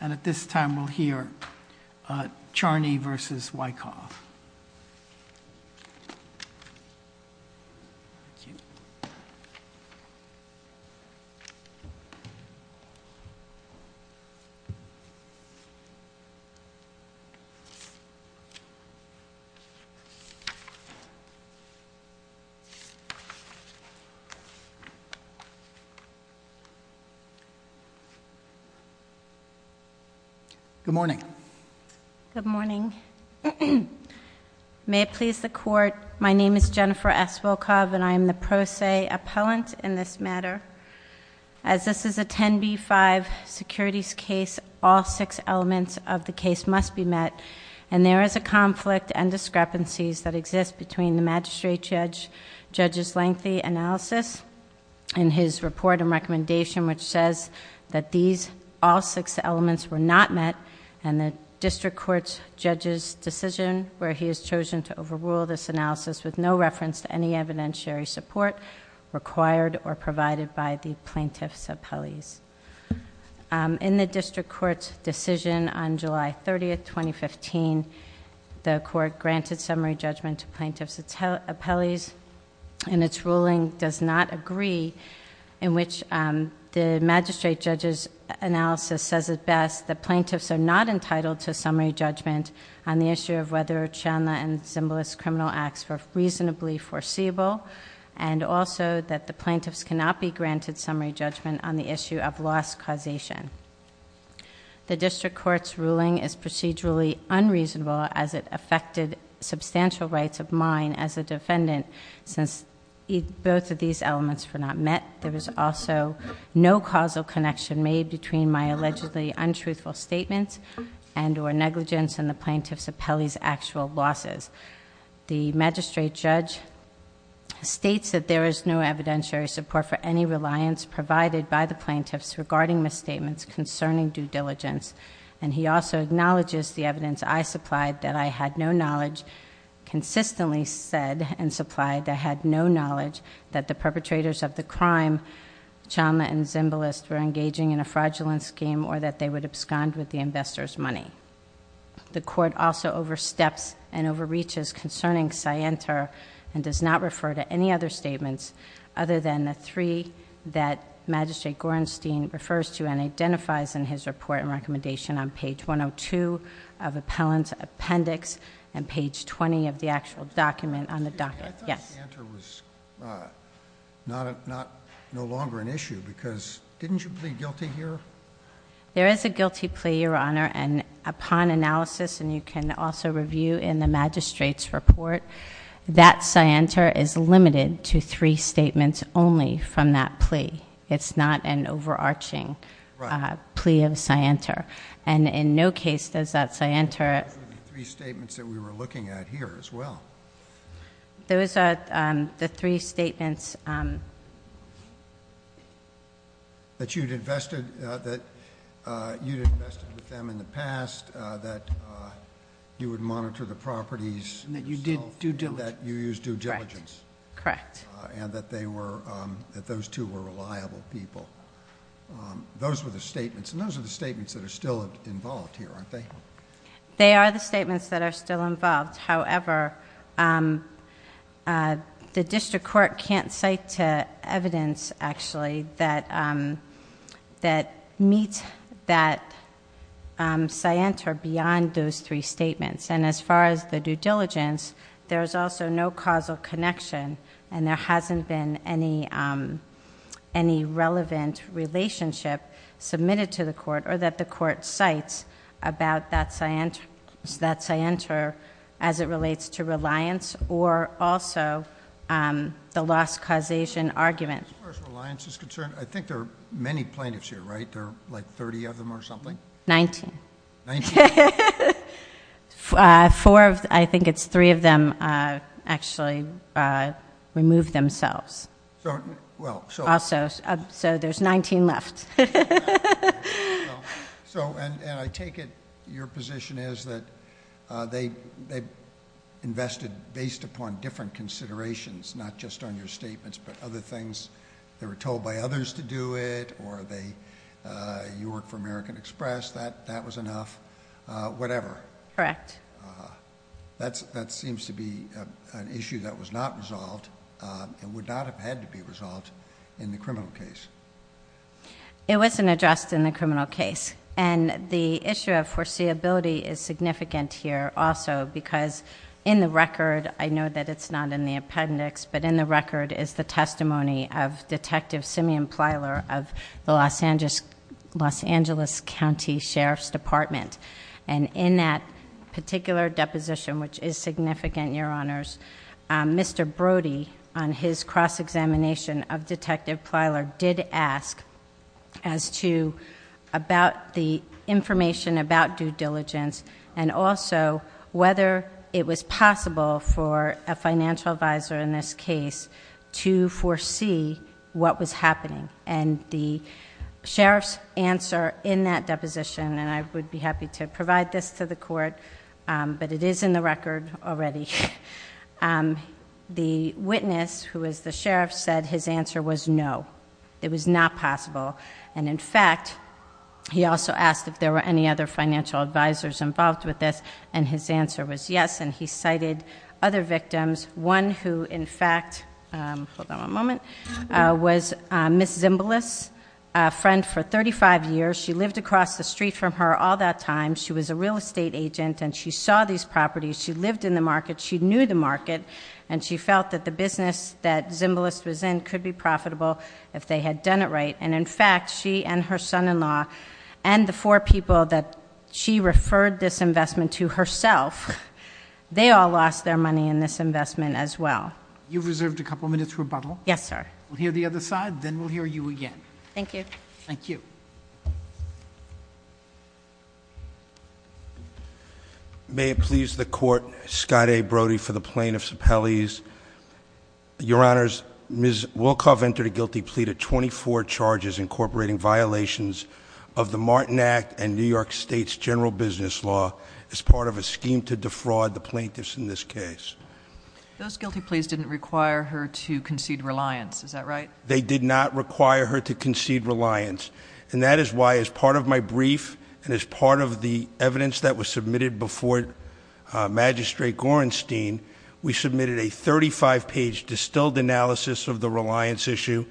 and at this time we'll hear Charney v. Wyckoff Good morning. Good morning. May it please the court my name is Jennifer S. Wyckoff and I am the pro se appellant in this matter. As this is a 10b5 securities case all six elements of the case must be met and there is a conflict and discrepancies that exist between the magistrate judge judge's lengthy analysis and his report and recommendation which says that these all six elements were not met and the district court judge's decision where he has chosen to overrule this analysis with no reference to any evidentiary support required or provided by the plaintiff's appellees. In the district court's decision on July 30th 2015 the court granted summary judgment to plaintiff's appellees and its ruling does not agree in which the magistrate judge's analysis says it best that plaintiffs are not entitled to summary judgment on the issue of whether Charney and Zimbalist criminal acts were reasonably foreseeable and also that the plaintiffs cannot be granted summary judgment on the issue of loss causation. The district court's ruling is procedurally unreasonable as it affected substantial rights of mine as a defendant since both of these elements were not met. There was also no causal connection made between my allegedly untruthful statements and or negligence and the plaintiff's appellee's actual losses. The magistrate judge states that there is no evidentiary support for any reliance provided by the plaintiffs regarding misstatements concerning due diligence and he also acknowledges the evidence I supplied that I had no knowledge consistently said and supplied that I had no knowledge that the perpetrators of the crime Charney and Zimbalist were engaging in a fraudulent scheme or that they would abscond with the investor's money. The court also oversteps and overreaches concerning Sienter and does not refer to any other statements other than the three that Magistrate Gorenstein refers to and identifies in his report and recommendation on page 102 of Appellant Appendix and page 20 of the actual document on the docket. Yes. I thought Sienter was no longer an issue because didn't you plead guilty here? There is a guilty plea your honor and upon analysis and you can also review in the magistrate's report that Sienter is limited to three statements only from that plea. It's not an overarching plea of Sienter and in no case does that Sienter. Three statements that we were looking at here as well. Those are the three statements that you'd invested that you'd invested with them in the past that you would monitor the properties and that you did do do that you use due diligence. Correct. And that they were that those two were reliable people. Those were the statements and those are the statements that are still involved here aren't they? They are the statements that are still involved. However, the district court can't cite to evidence actually that that meets that Sienter beyond those three statements and as far as the due diligence there's also no causal connection and there hasn't been any any relevant relationship submitted to the court or that the court cites about that Sienter as it relates to reliance or also the loss causation argument. As far as reliance is concerned I think there are many plaintiffs here right? There are like 30 of them or something? 19. Four of I think it's three of them actually removed themselves. So there's 19 left. So and I take it your position is that they invested based upon different considerations not just on your statements but other things they were told by others to do it or they you work for American Express that that was enough whatever. Correct. That seems to be an issue that was not resolved and would not have had to be resolved in the criminal case. It wasn't addressed in the criminal case and the issue of foreseeability is significant here also because in the record I know that it's not in the appendix but in the record is the testimony of Detective Simeon Plyler of the Los Angeles County Sheriff's Department and in that particular deposition which is significant your honors Mr. Brody on his cross-examination of Detective Plyler did ask as to about the information about due diligence and also whether it was possible for a financial advisor in this case to foresee what was happening and the sheriff's answer in that court but it is in the record already the witness who is the sheriff said his answer was no it was not possible and in fact he also asked if there were any other financial advisors involved with this and his answer was yes and he cited other victims one who in fact was Miss Zimbalist a friend for 35 years she was a real estate agent and she saw these properties she lived in the market she knew the market and she felt that the business that Zimbalist was in could be profitable if they had done it right and in fact she and her son-in-law and the four people that she referred this investment to herself they all lost their money in this investment as well you've reserved a couple minutes rebuttal yes sir we'll hear the other side then we'll hear you again thank you thank you may it please the court Scott a Brody for the plaintiffs appellees your honors ms. Wilcov entered a guilty plea to 24 charges incorporating violations of the Martin Act and New York State's general business law as part of a scheme to defraud the plaintiffs in this case those guilty pleas didn't require her to concede reliance is that right they did not require her to concede reliance and that is why as part of my brief and as part of the evidence that was submitted before magistrate Gorenstein we submitted a 35 page distilled analysis of the reliance issue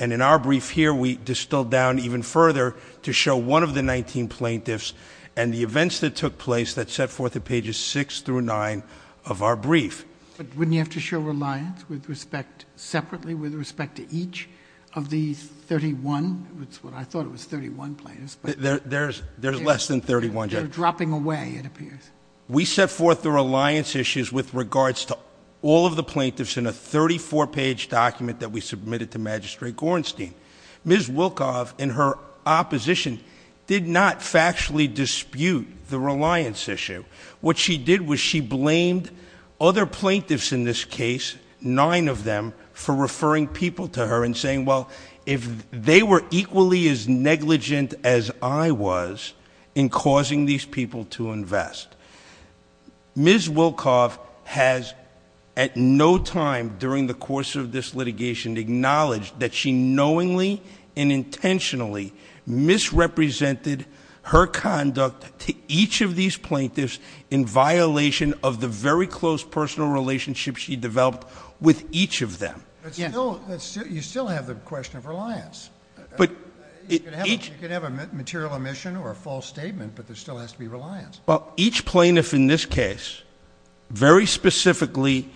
and in our brief here we distilled down even further to show one of the 19 plaintiffs and the events that took place that set forth the pages 6 through 9 of our brief but wouldn't you have to show reliance with respect separately with respect to each of these 31 that's what I thought it was 31 players but there's there's less than 31 dropping away it appears we set forth the reliance issues with regards to all of the plaintiffs in a 34 page document that we submitted to magistrate Gorenstein ms. Wilcov in her opposition did not factually dispute the reliance issue what she did was she blamed other plaintiffs in this case nine of them for referring people to her and saying well if they were equally as negligent as I was in causing these people to invest ms. Wilcov has at no time during the course of this litigation acknowledged that she knowingly and intentionally misrepresented her conduct to each of these plaintiffs in violation of the very close personal relationship she developed with each of them you still have the question of reliance but it can have a material omission or false statement but there still has to be reliance but each plaintiff in this case very specifically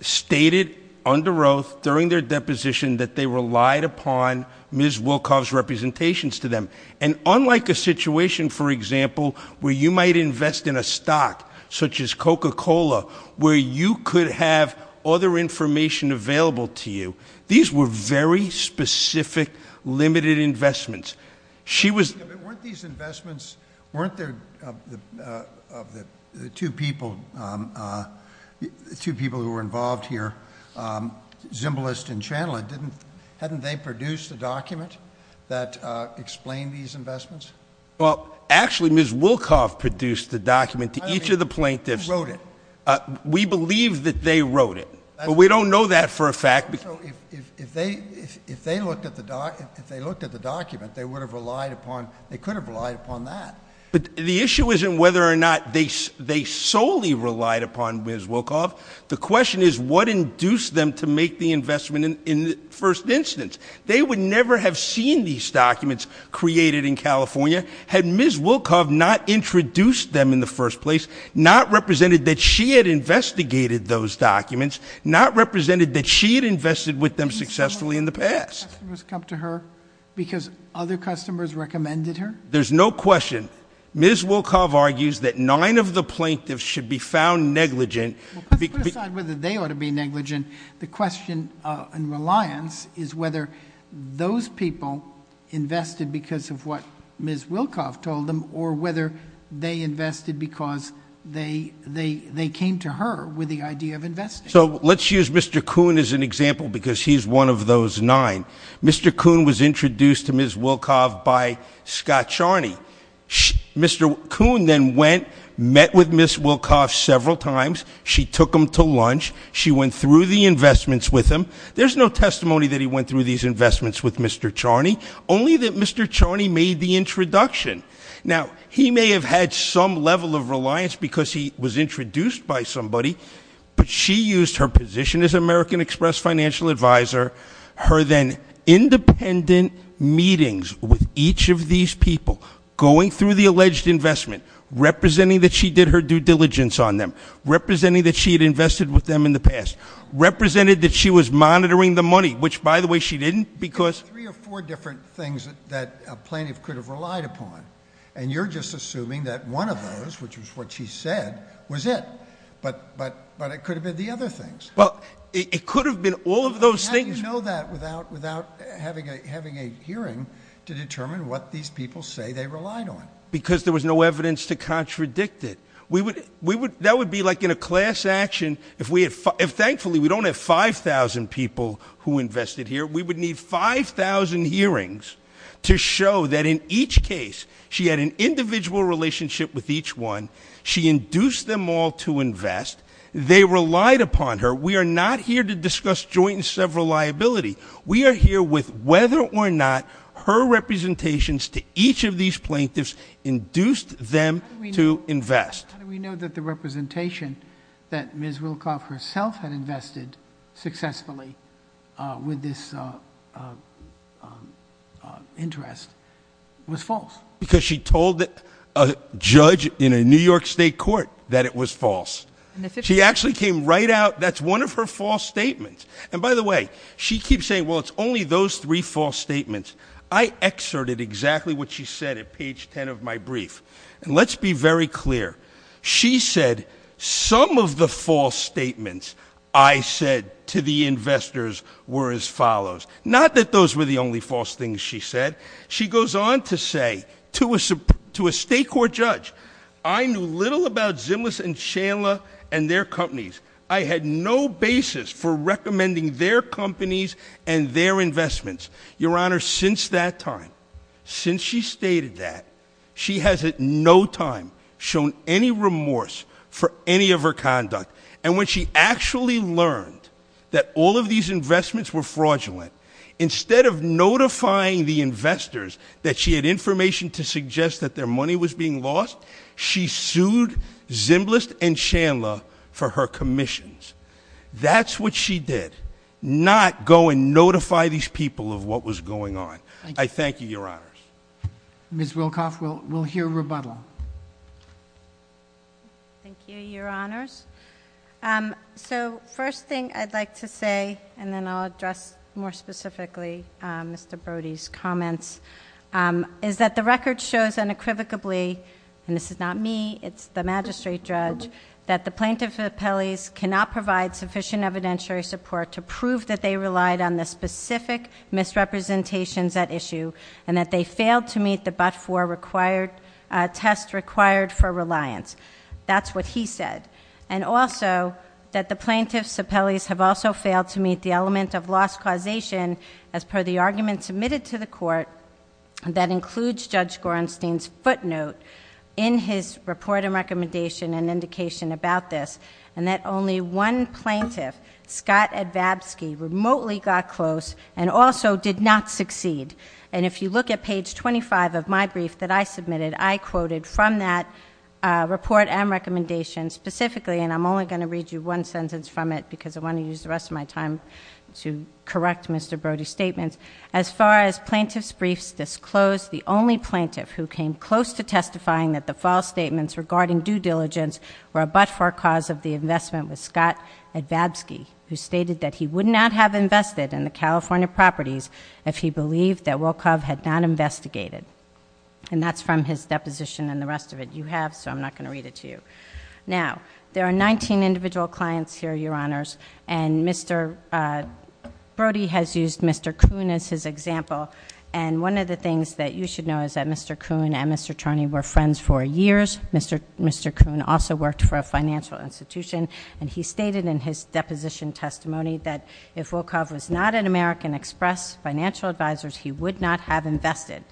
stated under oath during their deposition that they relied upon ms. Wilcov's representations to them and unlike a situation for example where you might invest in a stock such as coca-cola where you could have other information available to you these were very specific limited investments she was these investments weren't there of the two people two people who were involved here Zimbalist and Chandler didn't hadn't they produce the document that explain these investments well actually ms. Wilcov produced the document to each of the plaintiffs wrote it we believe that they wrote it we don't know that for a fact if they if they looked at the doc if they looked at the document they would have relied upon they could have relied upon that but the issue isn't whether or not they they solely relied upon ms. Wilcov the question is what induced them to make the investment in the first instance they would never have seen these documents created in California had ms. Wilcov not introduced them in the first place not represented that she had investigated those documents not represented that she had invested with them successfully in the past her because other customers recommended her there's no question ms. Wilcov argues that nine of the plaintiffs should be found negligent whether they ought to be negligent the question and reliance is whether those people invested because of what ms. Wilcov told them or whether they invested because they they they came to her with the idea of investing so let's use mr. Kuhn as an example because he's one of those nine mr. Kuhn was introduced to ms. Wilcov by Scott Charney mr. Kuhn then went met with ms. Wilcov several times she took him to lunch she went through the investments with him there's no testimony that he went through these investments with mr. Charney only that mr. Charney made the introduction now he may have had some level of reliance because he was introduced by somebody but she used her position as American Express financial advisor her then independent meetings with each of these people going through the alleged investment representing that she did her due diligence on them representing that she had invested with them in the past represented that she was monitoring the money which by the way she didn't because three or four different things that a plaintiff could have relied upon and you're just assuming that one of those which was what she said was it but but but it could have been the other things well it could have been all of those things know that without without having a having a hearing to determine what these people say they relied on because there was no evidence to contradict it we would we would that would be like in a class action if we had fun if thankfully we don't have 5,000 people who invested here we would need 5,000 hearings to show that in each case she had an individual relationship with each one she induced them all to invest they relied upon her we are not here to discuss joint and several liability we are here with whether or not her representations to each of these plaintiffs induced them to invest we know that the representation that Ms. Wilcoff herself had invested successfully with this interest was false because she told a judge in a New York State court that it was false and if she actually came right out that's one of her false statements and by the way she keeps saying well it's only those three false statements I excerpted exactly what she said at page 10 of my she said some of the false statements I said to the investors were as follows not that those were the only false things she said she goes on to say to us to a state court judge I knew little about Zimlas and Chandler and their companies I had no basis for recommending their companies and their investments your honor since that time since she stated that she has at no time shown any remorse for any of her conduct and when she actually learned that all of these investments were fraudulent instead of notifying the investors that she had information to suggest that their money was being lost she sued Zimbalist and Chandler for her commissions that's what she did not go and notify these people of what was going on I thank you your honors Ms. Wilcoff will hear rebuttal thank you your honors so first thing I'd like to say and then I'll address more specifically Mr. Brody's comments is that the record shows unequivocally and this is not me it's the magistrate judge that the plaintiff's appellees cannot provide sufficient evidentiary support to prove that they relied on the failed to meet the but for required test required for reliance that's what he said and also that the plaintiff's appellees have also failed to meet the element of loss causation as per the argument submitted to the court and that includes judge Gorenstein's footnote in his report and recommendation and indication about this and that only one plaintiff Scott at Vabsky remotely got close and also did not succeed and if you look at page 25 of my brief that I submitted I quoted from that report and recommendations specifically and I'm only going to read you one sentence from it because I want to use the rest of my time to correct mr. Brody statements as far as plaintiffs briefs disclosed the only plaintiff who came close to testifying that the false statements regarding due diligence were a but-for cause of the investment with Scott at California properties if he believed that will carve had not investigated and that's from his deposition and the rest of it you have so I'm not going to read it to you now there are 19 individual clients here your honors and mr. Brody has used mr. Coon as his example and one of the things that you should know is that mr. Coon and mr. Charney were friends for years mr. mr. Coon also worked for a financial institution and he stated in his deposition testimony that if will carve was not an American Express financial advisors he would not have invested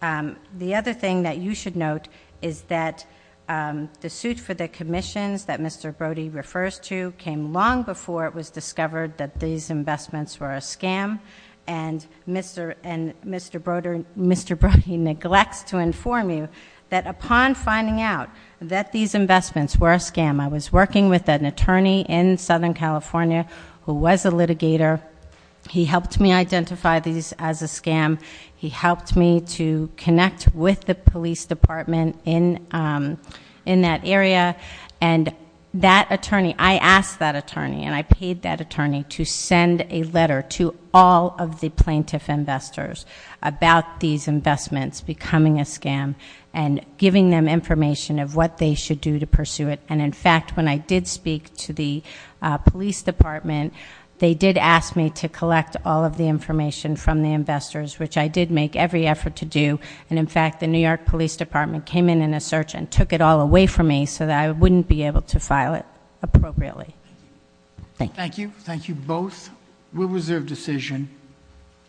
the other thing that you should note is that the suit for the commissions that mr. Brody refers to came long before it was discovered that these investments were a scam and mr. and mr. Broder and mr. Brody neglects to inform you that upon finding out that these investments were a scam I was working with an attorney in Southern California who was a litigator he helped me identify these as a scam he helped me to connect with the police department in in that area and that attorney I asked that attorney and I paid that attorney to send a letter to all of the plaintiff investors about these investments becoming a scam and giving them information of what they should do to did speak to the police department they did ask me to collect all of the information from the investors which I did make every effort to do and in fact the New York Police Department came in in a search and took it all away from me so that I wouldn't be able to file it appropriately thank you thank you both will reserve decision